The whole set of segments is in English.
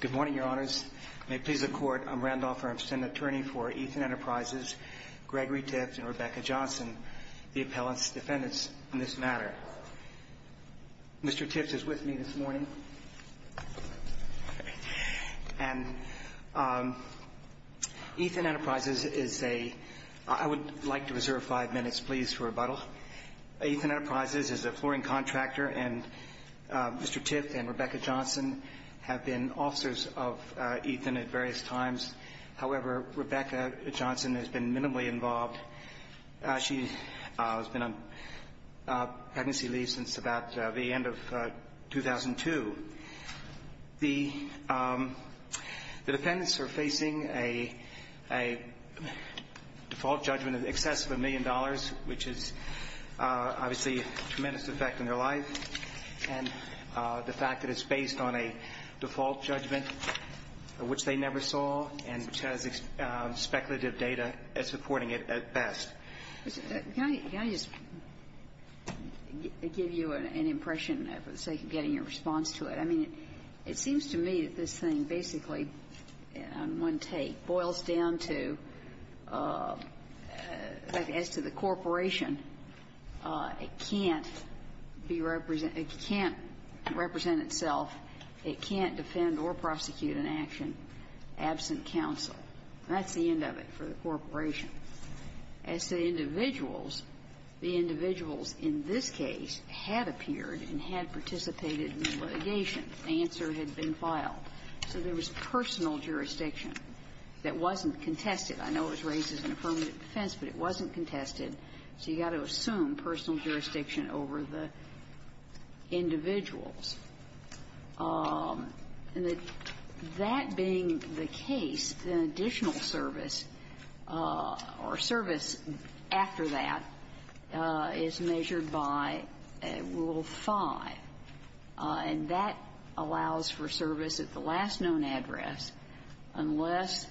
Good morning, your honors. May it please the court, I'm Randolph Armstron, attorney for Ethan Enterprises, Gregory Tift, and Rebecca Johnson, the appellant's defendants in this matter. Mr. Tift is with me this morning. And Ethan Enterprises is a, I would like to reserve five minutes, please, for rebuttal. Ethan Enterprises is a flooring contractor and Mr. Tift and Rebecca Johnson have been officers of Ethan at various times. However, Rebecca Johnson has been minimally involved. She has been on pregnancy leave since about the end of 2002. The defendants are facing a default judgment in excess of a million dollars, which is obviously a tremendous effect on their life. And the fact that it's based on a default judgment, which they never saw, and which has speculative data, is supporting it at best. Can I just give you an impression, for the sake of getting your response to it? I mean, it seems to me that this thing basically, on one take, boils down to, as to the corporation, it can't be represented as an action absent counsel. That's the end of it for the corporation. As to the individuals, the individuals in this case had appeared and had participated in the litigation. The answer had been filed. So there was personal jurisdiction that wasn't contested. I know it was raised as an affirmative defense, but it wasn't contested. So you've got to assume personal jurisdiction over the individuals. And that being the case, the additional service or service after that is measured by Rule 5. And that's the And that allows for service at the last known address unless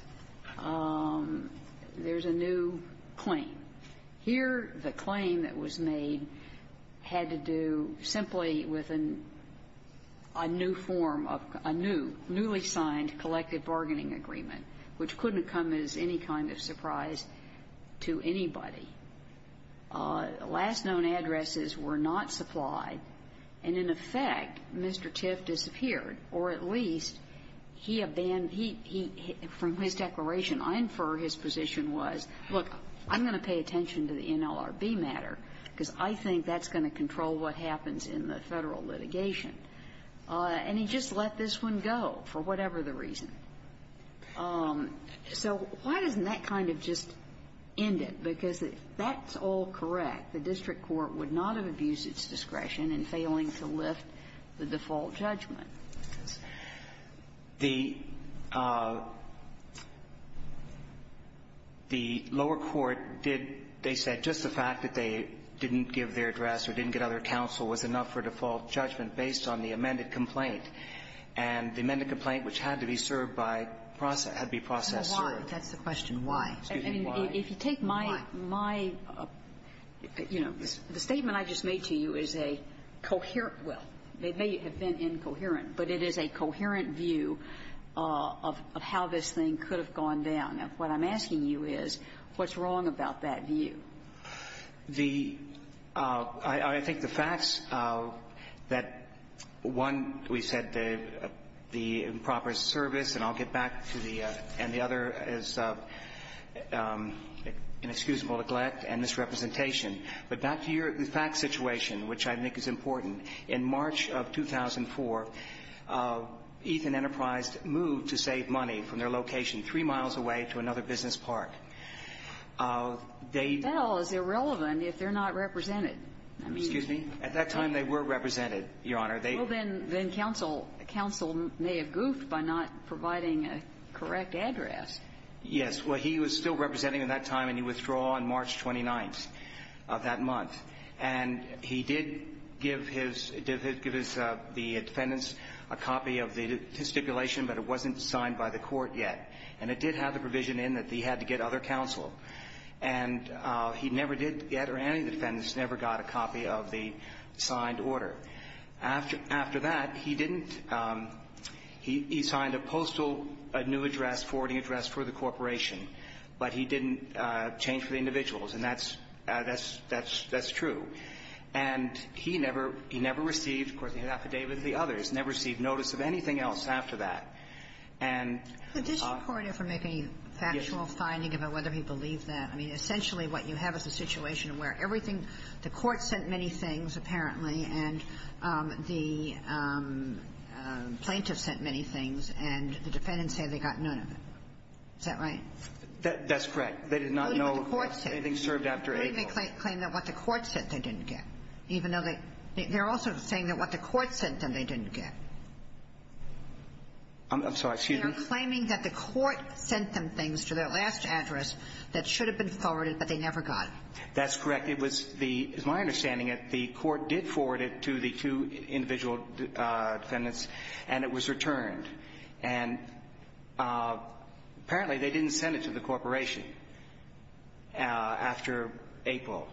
there's a new claim. Here, the claim that was made had to do simply with a new form of a new, newly signed collective bargaining agreement, which couldn't come as any kind of surprise to anybody. Last known addresses were not supplied. And in effect, Mr. Tiff disappeared, or at least he abandoned his declaration. I infer his position was, look, I'm going to pay attention to the NLRB matter, because I think that's going to control what happens in the Federal litigation. And he just let this one go for whatever the reason. So why doesn't that kind of just end it? Because that's all correct. The district court would not have abused its discretion in failing to lift the default judgment. The lower court did they said just the fact that they didn't give their address or didn't get other counsel was enough for default judgment based on the amended complaint. And the amended complaint, which had to be served by process, had to be process served. That's the question. Why? Excuse me. Why? If you take my my, you know, the statement I just made to you is a coherent well, it may have been incoherent, but it is a coherent view of how this thing could have gone down. And what I'm asking you is, what's wrong about that view? The — I think the facts that one, we said the improper service, and I'll get back to the — and the other is an excusable neglect and misrepresentation. But back to your fact situation, which I think is important. In March of 2004, Ethan Enterprise moved to save money from their location three miles away to another business park. They — That all is irrelevant if they're not represented. Excuse me? At that time, they were represented, Your Honor. They — Well, then counsel may have goofed by not providing a correct address. Yes. Well, he was still representing at that time, and he withdrew on March 29th of that month. And he did give his — give the defendants a copy of the stipulation, but it wasn't signed by the court yet. And it did have the provision in that he had to get other counsel. And he never did get — or any of the defendants never got a copy of the signed order. After — after that, he didn't — he signed a postal new address, forwarding address for the corporation, but he didn't change for the individuals. And that's — that's — that's true. And he never — he never received — of course, he had affidavits of the others — never received notice of anything else after that. And — And did the court ever make any factual finding about whether he believed that? I mean, essentially, what you have is a situation where everything — the court sent many things, apparently, and the plaintiff sent many things, and the defendants say they got none of it. Is that right? That's correct. They did not know anything served after April. They claim that what the court sent, they didn't get, even though they — they're also saying that what the court sent them, they didn't get. I'm sorry. Excuse me? They're claiming that the court sent them things to their last address that should have been forwarded, but they never got. That's correct. It was the — it's my understanding that the court did forward it to the two individual defendants, and it was returned. And apparently, they didn't send it to the corporation after April.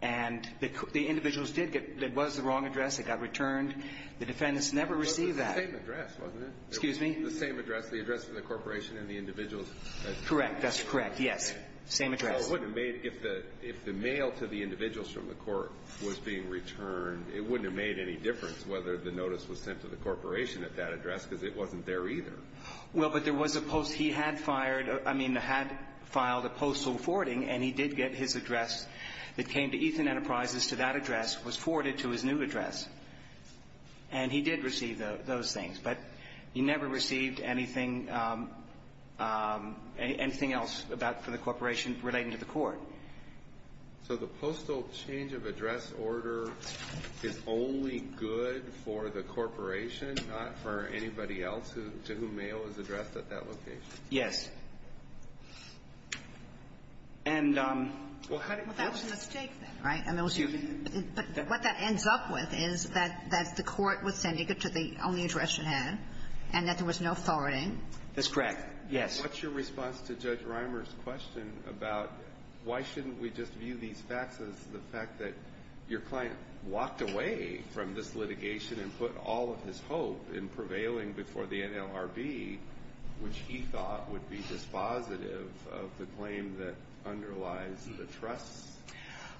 And the individuals did get — it was the wrong address. It got returned. The defendants never received that. It was the same address, wasn't it? Excuse me? The same address. The address of the corporation and the individuals that — Correct. That's correct. Yes. Same address. So it wouldn't have made — if the — if the mail to the individuals from the court was being returned, it wouldn't have made any difference whether the notice was sent to the corporation at that address, because it wasn't there either. Well, but there was a post — he had fired — I mean, had filed a postal forwarding, and he did get his address that came to Ethan Enterprises to that address, was forwarded to his new address. And he did receive those things. But he never received anything — anything else about — for the corporation relating to the court. So the postal change of address order is only good for the corporation, not for anybody else who — to whom mail was addressed at that location? Yes. And — Well, that was a mistake, then, right? I mean, it was — but what that ends up with is that the court was sending it to the only person whose address it had, and that there was no forwarding. That's correct. Yes. What's your response to Judge Reimer's question about why shouldn't we just view these facts as the fact that your client walked away from this litigation and put all of his hope in prevailing before the NLRB, which he thought would be dispositive of the claim that underlies the trusts,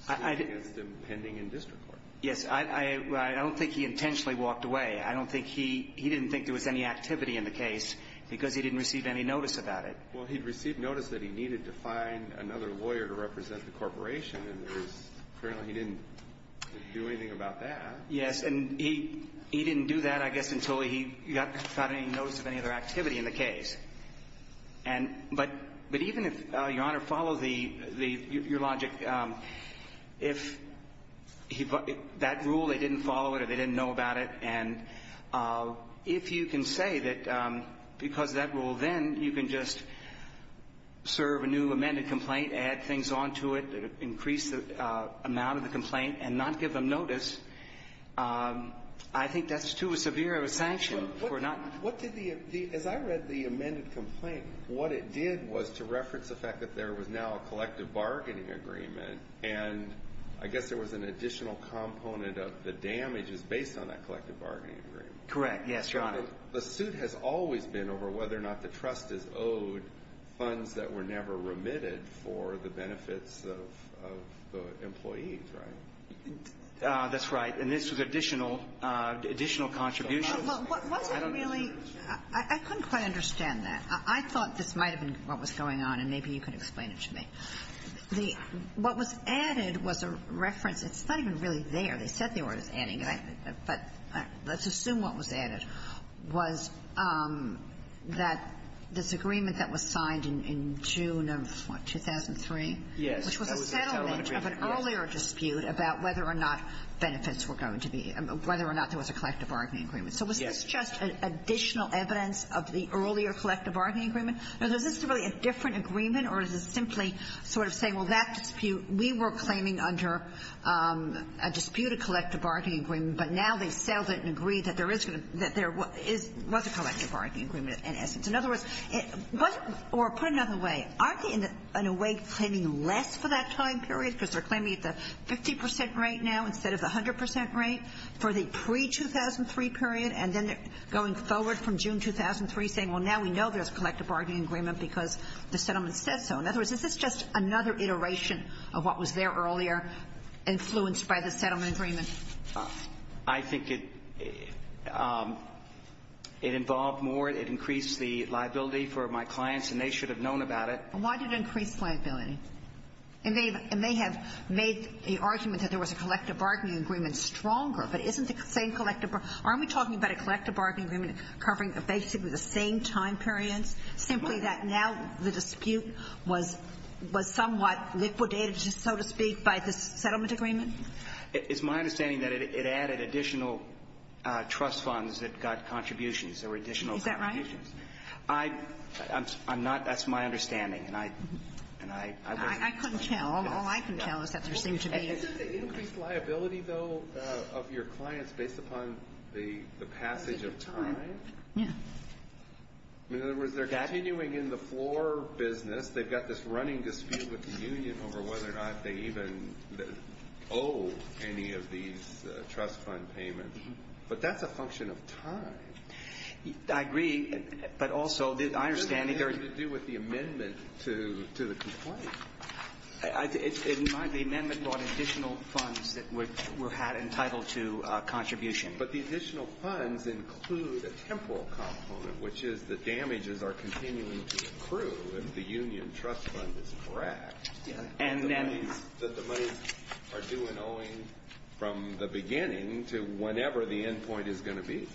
stood against him pending in district court? Yes. I — I don't think he intentionally walked away. I don't think he — he didn't think there was any activity in the case because he didn't receive any notice about it. Well, he'd received notice that he needed to find another lawyer to represent the corporation, and there's — apparently he didn't do anything about that. Yes. And he — he didn't do that, I guess, until he got — got any notice of any other activity in the case. And — but — but even if, Your Honor, follow the — the — your logic, if he — that rule, they didn't follow it or they didn't know about it, and if you can say that because of that rule, then you can just serve a new amended complaint, add things onto it, increase the amount of the complaint, and not give them notice, I think that's too severe of a sanction for not — What did the — the — as I read the amended complaint, what it did was to reference the fact that there was now a collective bargaining agreement, and I guess there was an additional component of the damage is based on that collective bargaining agreement. Correct. Yes, Your Honor. The suit has always been over whether or not the trust is owed funds that were never remitted for the benefits of — of the employees, right? That's right. And this was additional — additional contributions. Well, what wasn't really — I couldn't quite understand that. I thought this might have been what was going on, and maybe you can explain it to me. The — what was added was a reference — it's not even really there. They said they were adding it, but let's assume what was added was that this agreement that was signed in June of what, 2003? Yes. That was the settlement agreement. Which was a settlement of an earlier dispute about whether or not benefits were going to be — whether or not there was a collective bargaining agreement. Yes. So was this just additional evidence of the earlier collective bargaining agreement? Now, is this really a different agreement, or is it simply sort of saying, well, that dispute — we were claiming under a disputed collective bargaining agreement, but now they've settled it and agreed that there is going to — that there is — was a collective bargaining agreement, in essence. In other words, it — or put another way, aren't they in a way claiming less for that time period, because they're claiming the 50 percent rate now instead of the 100 percent rate for the pre-2003 period? And then they're going forward from June 2003 saying, well, now we know there's a collective bargaining agreement because the settlement says so. In other words, is this just another iteration of what was there earlier, influenced by the settlement agreement? I think it — it involved more. It increased the liability for my clients, and they should have known about it. And why did it increase liability? And they have made the argument that there was a collective bargaining agreement stronger, but isn't the same collective — aren't we talking about a collective in time periods, simply that now the dispute was — was somewhat liquidated, so to speak, by the settlement agreement? It's my understanding that it added additional trust funds that got contributions or additional contributions. Is that right? I'm not — that's my understanding, and I — and I wouldn't tell you. I couldn't tell. All I can tell is that there seemed to be — Isn't the increased liability, though, of your clients based upon the — the passage of time? Yeah. In other words, they're continuing in the floor business. They've got this running dispute with the union over whether or not they even owe any of these trust fund payments. But that's a function of time. I agree, but also, I understand that there are — What does that have to do with the amendment to — to the complaint? I — in my — the amendment brought additional funds that were — were entitled to contribution. But the additional funds include a temporal component, which is the damages are continuing to accrue if the union trust fund is correct. Yeah. And then — And the monies — that the monies are due and owing from the beginning to whenever the end point is going to be.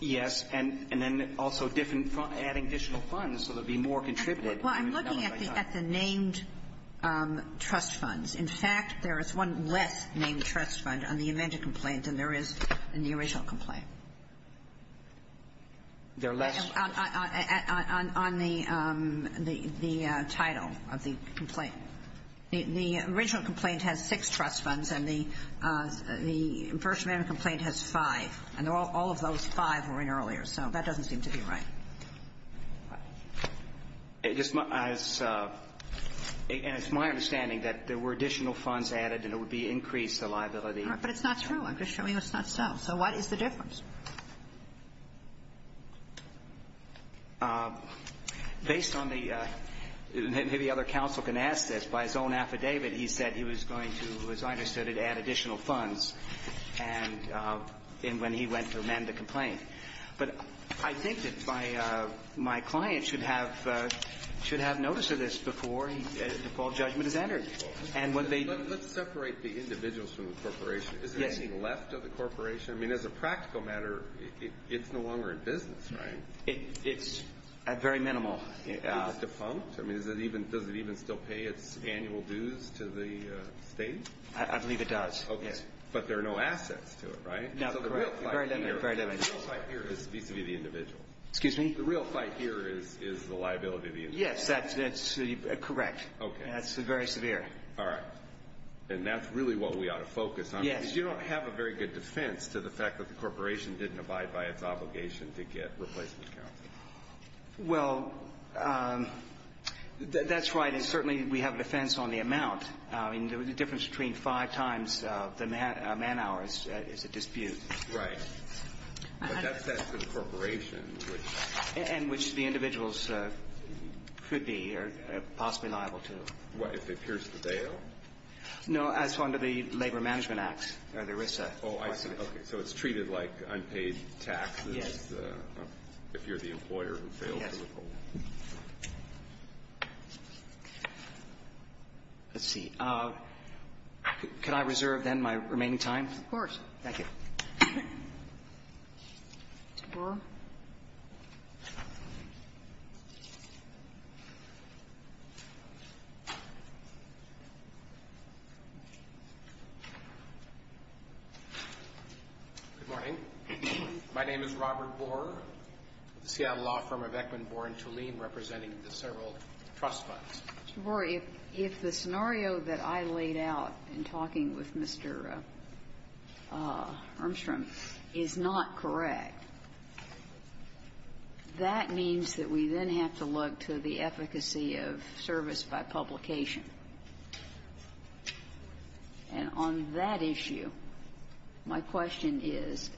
Yes. And — and then also different — adding additional funds so there would be more contributors. Well, I'm looking at the — at the named trust funds. In fact, there is one less named trust fund on the amendment complaint, and there is in the original complaint. There are less — On — on — on the — the title of the complaint. The original complaint has six trust funds, and the — the first amendment complaint has five. And all of those five were in earlier. So that doesn't seem to be right. It just — as — and it's my understanding that there were additional funds added, and it would be increased the liability. But it's not true. I'm just showing it's not so. So what is the difference? Based on the — maybe other counsel can ask this. By his own affidavit, he said he was going to, as I understood it, add additional funds and — and when he went to amend the complaint. But I think that my — my client should have — should have notice of this before he — before judgment is entered. And when they — Let's separate the individuals from the corporation. Yes. Anything left of the corporation? I mean, as a practical matter, it's no longer in business, right? It — it's at very minimal. Is it defunct? I mean, is it even — does it even still pay its annual dues to the state? I believe it does. Okay. But there are no assets to it, right? No, correct. Very limited. Very limited. So the real fight here — the real fight here is vis-a-vis the individual. Excuse me? The real fight here is — is the liability of the individual. Yes, that's — that's correct. Okay. And that's very severe. All right. And that's really what we ought to focus on. Yes. Because you don't have a very good defense to the fact that the corporation didn't abide by its obligation to get replacement counsel. Well, that's right. And certainly, we have a defense on the amount. I mean, the difference between five times the man-hour is a dispute. Right. But that's set for the corporation, which — And which the individuals could be or possibly liable to. What, if it pierces the bail? No, as under the Labor Management Act, or the ERISA. Oh, I see. Okay. So it's treated like unpaid taxes if you're the employer who fails to withhold. Yes. Let's see. Could I reserve, then, my remaining time? Of course. Thank you. Mr. Borer? Good morning. My name is Robert Borer with the Seattle law firm of Ekman, Borer & Tulene, representing the several trust funds. Mr. Borer, if the scenario that I laid out in talking with Mr. Armstrong is not correct, that means that we then have to look to the efficacy of service by publication. And on that issue, my question is,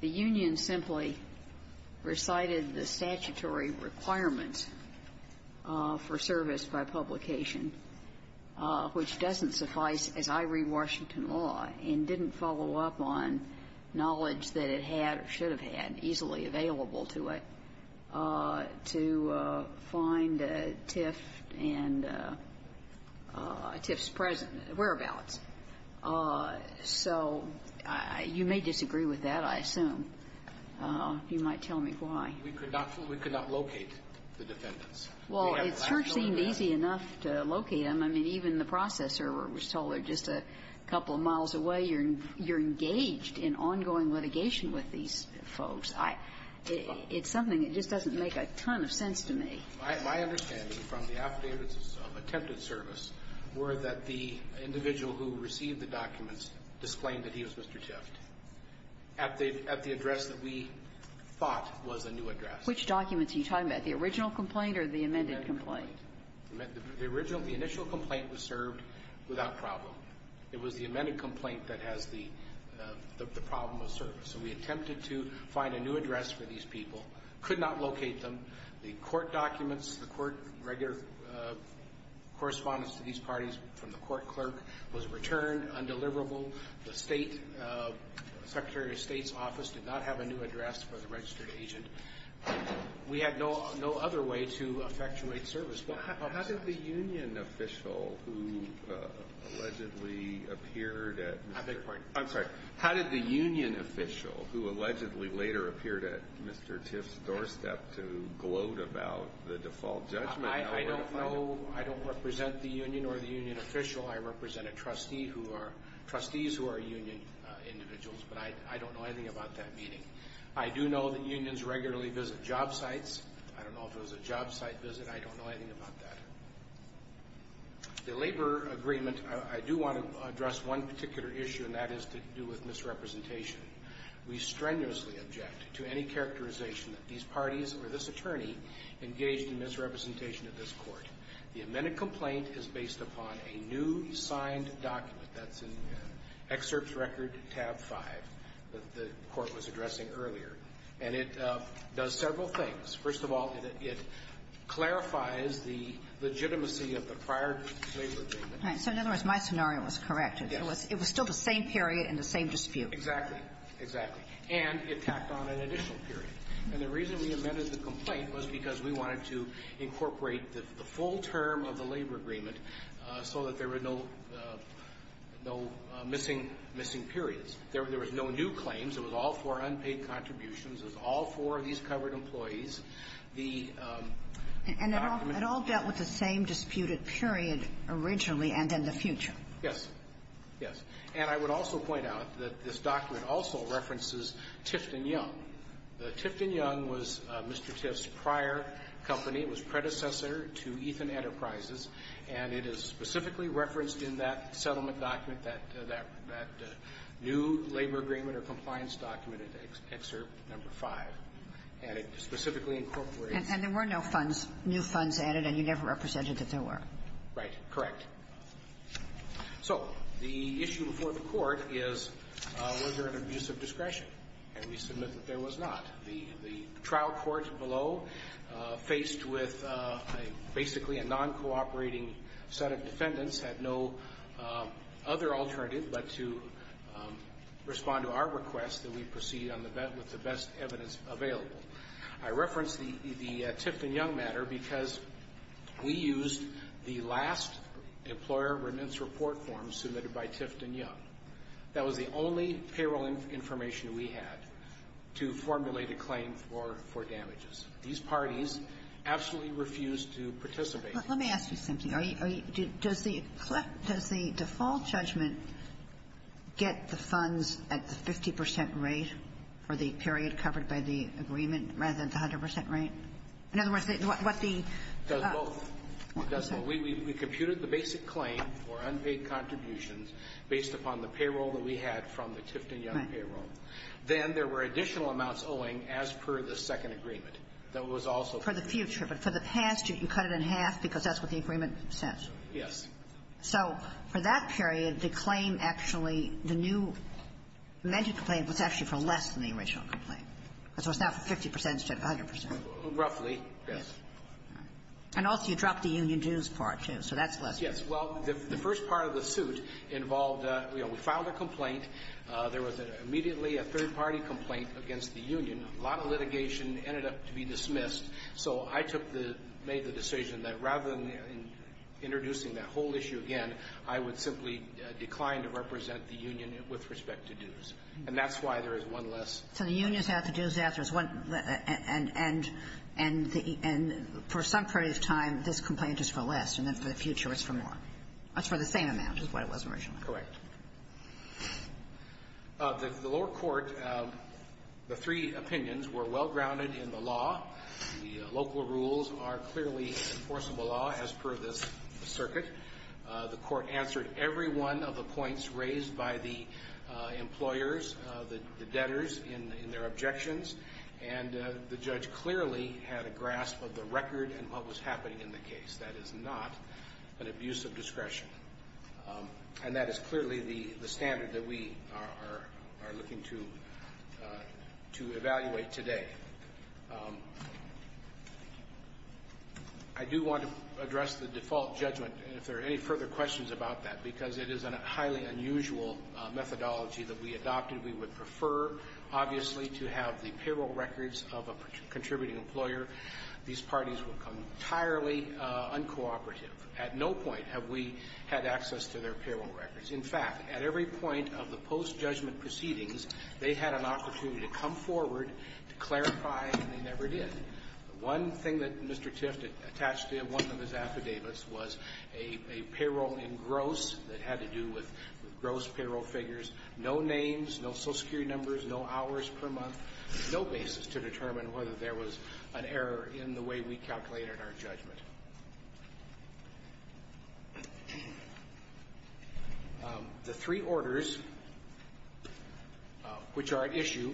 the union simply recited the statutory requirement for service by publication, which doesn't suffice, as I read Washington law, and didn't follow up on knowledge that it had or should have had easily available to it, to find TIF and TIF's present whereabouts. So you may disagree with that, I assume. You might tell me why. We could not locate the defendants. Well, it certainly seemed easy enough to locate them. I mean, even the processer was told just a couple of miles away, you're engaged in ongoing litigation with these folks. It's something that just doesn't make a ton of sense to me. My understanding from the affidavits of attempted service were that the individual who received the documents disclaimed that he was Mr. TIF at the address that we thought was a new address. Which documents are you talking about, the original complaint or the amended complaint? The amended complaint. The original, the initial complaint was served without problem. It was the amended complaint that has the problem of service. So we attempted to find a new address for these people, could not locate them. The court documents, the court regular correspondence to these parties from the court clerk was returned, undeliverable. The Secretary of State's office did not have a new address for the registered agent. We had no other way to effectuate service. How did the union official who allegedly appeared at Mr. TIF's doorstep to gloat about the default judgment? I don't know, I don't represent the union or the union official. I represent a trustee who are, trustees who are union individuals, but I don't know anything about that meeting. I do know that unions regularly visit job sites. I don't know if it was a job site visit. I don't know anything about that. The labor agreement, I do want to address one particular issue, and that is to do with misrepresentation. We strenuously object to any characterization that these parties or this attorney engaged in misrepresentation of this Court. The amended complaint is based upon a new signed document that's in excerpts record tab 5 that the Court was addressing earlier. And it does several things. First of all, it clarifies the legitimacy of the prior labor agreement. So in other words, my scenario was correct. It was still the same period and the same dispute. Exactly. Exactly. And it tacked on an additional period. And the reason we amended the complaint was because we wanted to incorporate the full term of the labor agreement so that there were no missing periods. There was no new claims. It was all four unpaid contributions. It was all four of these covered employees. The document was the same. And it all dealt with the same disputed period originally and in the future. Yes. Yes. And I would also point out that this document also references Tifton Young. The Tifton Young was Mr. Tiff's prior company. It was predecessor to Ethan Enterprises. And it is specifically referenced in that settlement document, that new labor agreement or compliance document in Excerpt No. 5. And it specifically incorporates And there were no funds, new funds added, and you never represented that there were. Right. Correct. So the issue before the court is was there an abuse of discretion? And we submit that there was not. The trial court below, faced with basically a non-cooperating set of defendants, had no other alternative but to respond to our request that we proceed with the best evidence available. I reference the Tifton Young matter because we used the last employer remittance report form submitted by Tifton Young. That was the only payroll information we had to formulate a claim for damages. These parties absolutely refused to participate. Let me ask you something. Does the default judgment get the funds at the 50 percent rate for the period covered by the agreement rather than the 100 percent rate? In other words, what the — It does both. It does both. We computed the basic claim for unpaid contributions based upon the payroll that we had from the Tifton Young payroll. Then there were additional amounts owing as per the second agreement. That was also — For the future. But for the past, you cut it in half because that's what the agreement says. Yes. So for that period, the claim actually, the new amended claim was actually for less than the original complaint. So it's now for 50 percent instead of 100 percent. Roughly, yes. And also you dropped the union dues part, too. So that's less. Yes. Well, the first part of the suit involved, you know, we filed a complaint. There was immediately a third-party complaint against the union. A lot of litigation ended up to be dismissed. So I took the — made the decision that rather than introducing that whole issue again, I would simply decline to represent the union with respect to dues. And that's why there is one less. So the union is out, the dues out. There's one — and for some period of time, this complaint is for less, and then for the future it's for more. It's for the same amount as what it was originally. Correct. The lower court, the three opinions were well-grounded in the law. The local rules are clearly enforceable law as per this circuit. The court answered every one of the points raised by the employers, the debtors, in their objections. And the judge clearly had a grasp of the record and what was happening in the case. That is not an abuse of discretion. And that is clearly the standard that we are looking to evaluate today. I do want to address the default judgment, and if there are any further questions about that, because it is a highly unusual methodology that we adopted. We would prefer, obviously, to have the payroll records of a contributing employer. These parties will become entirely uncooperative. At no point have we had access to their payroll records. In fact, at every point of the post-judgment proceedings, they had an opportunity to come forward to clarify, and they never did. One thing that Mr. Tift attached to one of his affidavits was a payroll in gross that had to do with gross payroll figures, no names, no Social Security numbers, no hours per month, no basis to determine whether there was an error in the way we calculated our judgment. The three orders which are at issue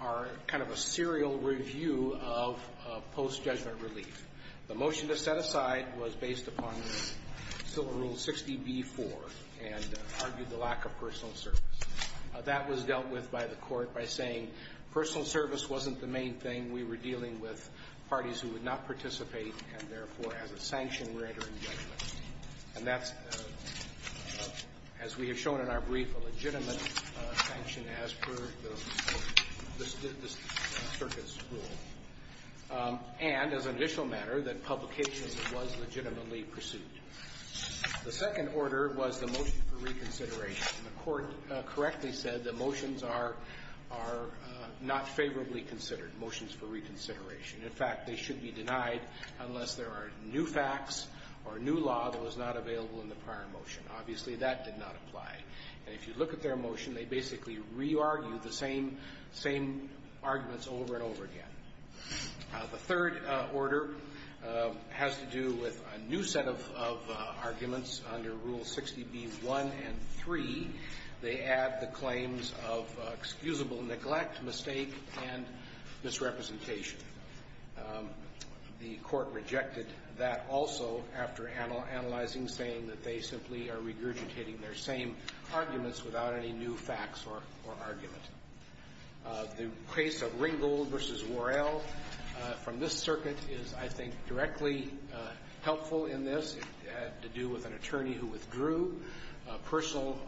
are kind of a serial review of post-judgment relief. The motion to set aside was based upon Civil Rule 60B-4 and argued the lack of personal service. That was dealt with by the court by saying personal service wasn't the main thing. We were dealing with parties who would not participate and, therefore, as a sanction we're entering judgment. And that's, as we have shown in our brief, a legitimate sanction as per the circuit's rule. And, as an additional matter, that publication was legitimately pursued. The second order was the motion for reconsideration. The court correctly said the motions are not favorably considered, motions for reconsideration. In fact, they should be denied unless there are new facts or a new law that was not available in the prior motion. Obviously, that did not apply. And if you look at their motion, they basically re-argued the same arguments over and over again. The third order has to do with a new set of arguments under Rules 60B-1 and 3. They add the claims of excusable neglect, mistake, and misrepresentation. The court rejected that also after analyzing, saying that they simply are regurgitating their same arguments without any new facts or argument. The case of Ringgold v. Worrell from this circuit is, I think, directly helpful in this. It had to do with an attorney who withdrew. Personal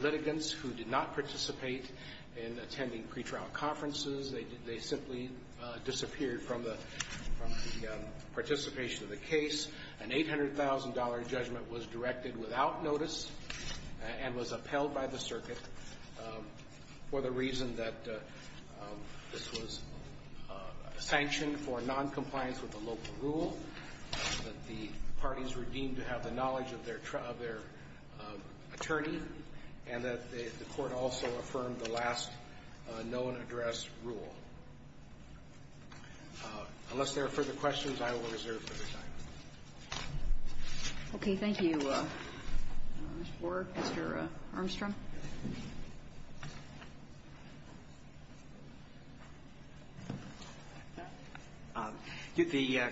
litigants who did not participate in attending pretrial conferences, they simply disappeared from the participation of the case. An $800,000 judgment was directed without notice and was upheld by the circuit for the reason that this was sanctioned for noncompliance with the local rule, that the parties were deemed to have the knowledge of their attorney, and that the court also affirmed the last known address rule. Unless there are further questions, I will reserve for this item. Okay. Thank you, Mr. Armstrong. The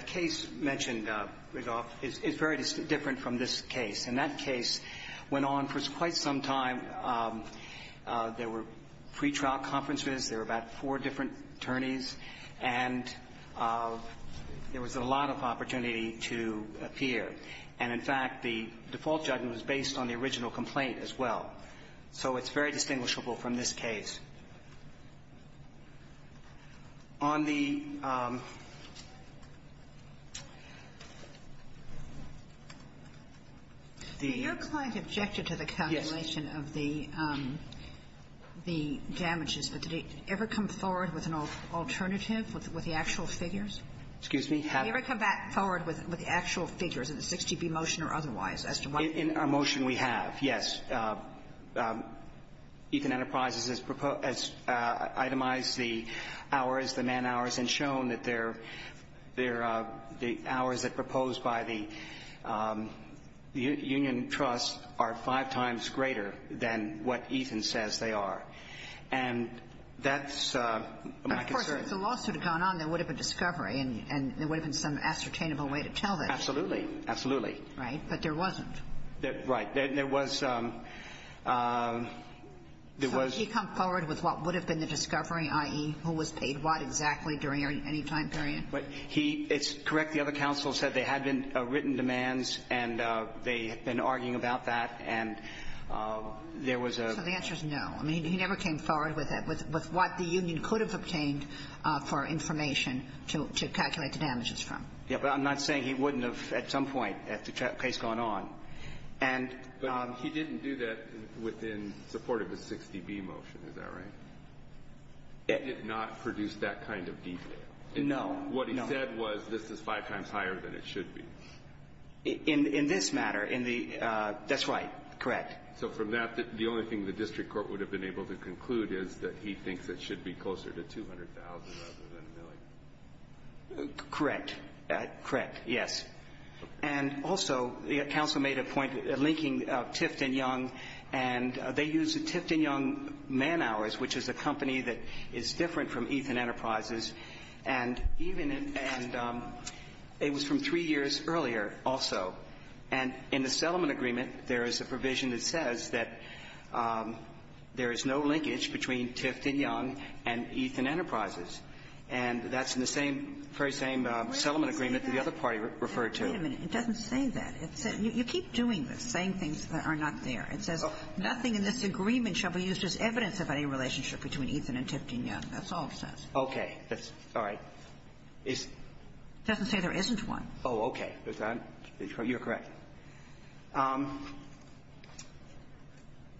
case mentioned, Riggolf, is very different from this case. And that case went on for quite some time. There were pretrial conferences. There were about four different attorneys. And there was a lot of opportunity to appear. And, in fact, the default judgment was based on the original complaint as well. So it's very distinguishable from this case. On the the ---- Your client objected to the calculation of the damages. But did it ever come forward with an alternative, with the actual figures? Excuse me? Did it ever come forward with the actual figures in the 6GB motion or otherwise as to what ---- In our motion, we have, yes. Ethan Enterprises has itemized the hours, the man hours, and shown that they're the hours that proposed by the union trust are five times greater than what Ethan says they are. And that's my concern. Well, of course, if the lawsuit had gone on, there would have been discovery and there would have been some ascertainable way to tell that. Absolutely. Absolutely. Right? But there wasn't. Right. There was ---- So did he come forward with what would have been the discovery, i.e., who was paid what exactly during any time period? He ---- it's correct the other counsel said there had been written demands and they had been arguing about that, and there was a ---- So the answer is no. I mean, he never came forward with what the union could have obtained for information to calculate the damages from. Yes, but I'm not saying he wouldn't have at some point at the case going on. And ---- But he didn't do that within support of the 6GB motion. Is that right? He did not produce that kind of detail. No. No. What he said was this is five times higher than it should be. In this matter, in the ---- that's right. Correct. So from that, the only thing the district court would have been able to conclude is that he thinks it should be closer to $200,000 rather than a million. Correct. Correct. Yes. And also, counsel made a point linking Tifton Young, and they use the Tifton Young man hours, which is a company that is different from Ethan Enterprises, and even in ---- and it was from three years earlier also. And in the settlement agreement, there is a provision that says that there is no linkage between Tifton Young and Ethan Enterprises. And that's in the same, very same settlement agreement that the other party referred to. Wait a minute. It doesn't say that. You keep doing this, saying things that are not there. It says nothing in this agreement shall be used as evidence of any relationship between Ethan and Tifton Young. That's all it says. Okay. That's all right. It's ---- It doesn't say there isn't one. Oh, okay. You're correct.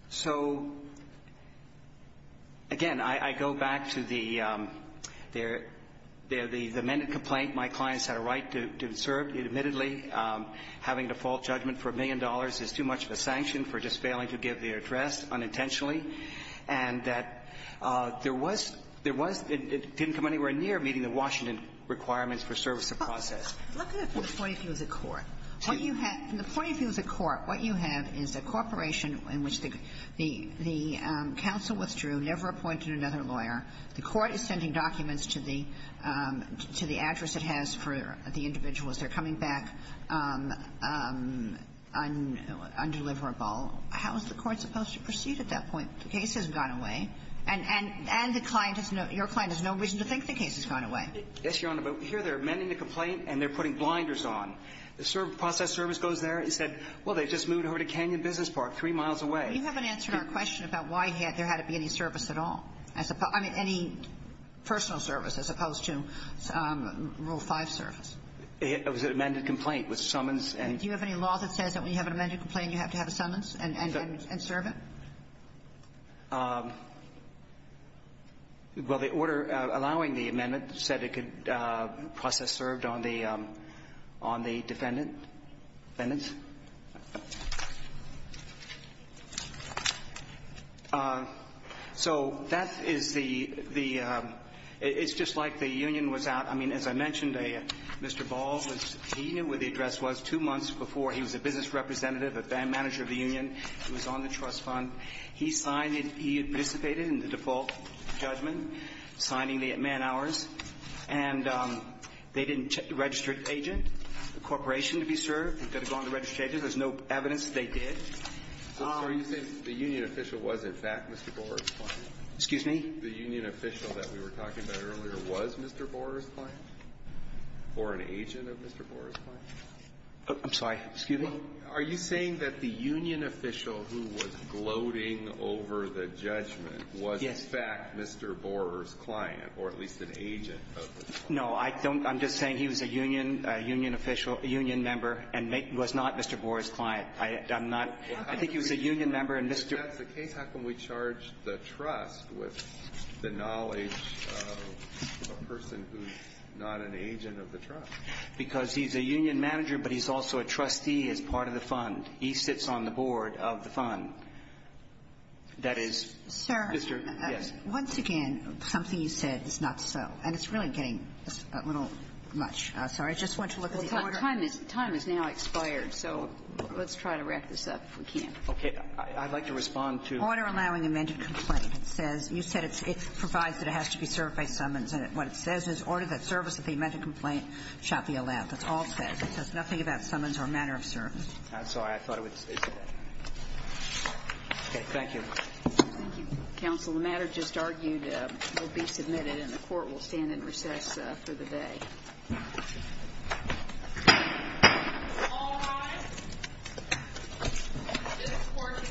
So, again, I go back to the ---- the amended complaint. My clients had a right to serve. Admittedly, having a default judgment for a million dollars is too much of a sanction for just failing to give the address unintentionally. And that there was ---- there was ---- it didn't come anywhere near meeting the Washington requirements for service of process. Look at the point of view of the court. What you have ---- the point of view of the court, what you have is a corporation in which the counsel withdrew, never appointed another lawyer. The court is sending documents to the address it has for the individuals. They're coming back undeliverable. How is the court supposed to proceed at that point? The case has gone away. And the client has no ---- your client has no reason to think the case has gone away. Yes, Your Honor, but here they're amending the complaint and they're putting blinders on. The process service goes there and said, well, they just moved over to Canyon Business Park three miles away. You haven't answered our question about why there had to be any service at all. I mean, any personal service as opposed to Rule 5 service. It was an amended complaint with summons and ---- Do you have any law that says that when you have an amended complaint, you have to have a summons and serve it? Well, the order allowing the amendment said it could process served on the defendant defendant's. So that is the ---- it's just like the union was out. I mean, as I mentioned, Mr. Ball was ---- he knew where the address was two months before. It was on the trust fund. He signed it. He had participated in the default judgment, signing the at-man hours. And they didn't check the registered agent, the corporation to be served. They've got to go on the registered agent. There's no evidence they did. Are you saying the union official was, in fact, Mr. Borer's client? Excuse me? The union official that we were talking about earlier was Mr. Borer's client or an agent of Mr. Borer's client? I'm sorry. Excuse me? Are you saying that the union official who was gloating over the judgment was, in fact, Mr. Borer's client or at least an agent of the client? No. I don't ---- I'm just saying he was a union official, a union member, and was not Mr. Borer's client. I'm not ---- I think he was a union member and Mr. ---- If that's the case, how can we charge the trust with the knowledge of a person who's not an agent of the trust? Because he's a union manager, but he's also a trustee as part of the fund. He sits on the board of the fund. That is, Mr. ---- Sir. Yes. Once again, something you said is not so. And it's really getting a little much. Sorry. I just want to look at the order. Time is now expired, so let's try to wrap this up if we can. Okay. I'd like to respond to ---- Order allowing amended complaint. It says you said it provides that it has to be served by summons. What it says is order that service of the amended complaint shall be allowed. That's all it says. It says nothing about summons or matter of service. I'm sorry. I thought it would say that. Okay. Thank you. Thank you, counsel. The matter just argued will be submitted, and the court will stand in recess for the day. All rise. This court is in recess until 10 p.m.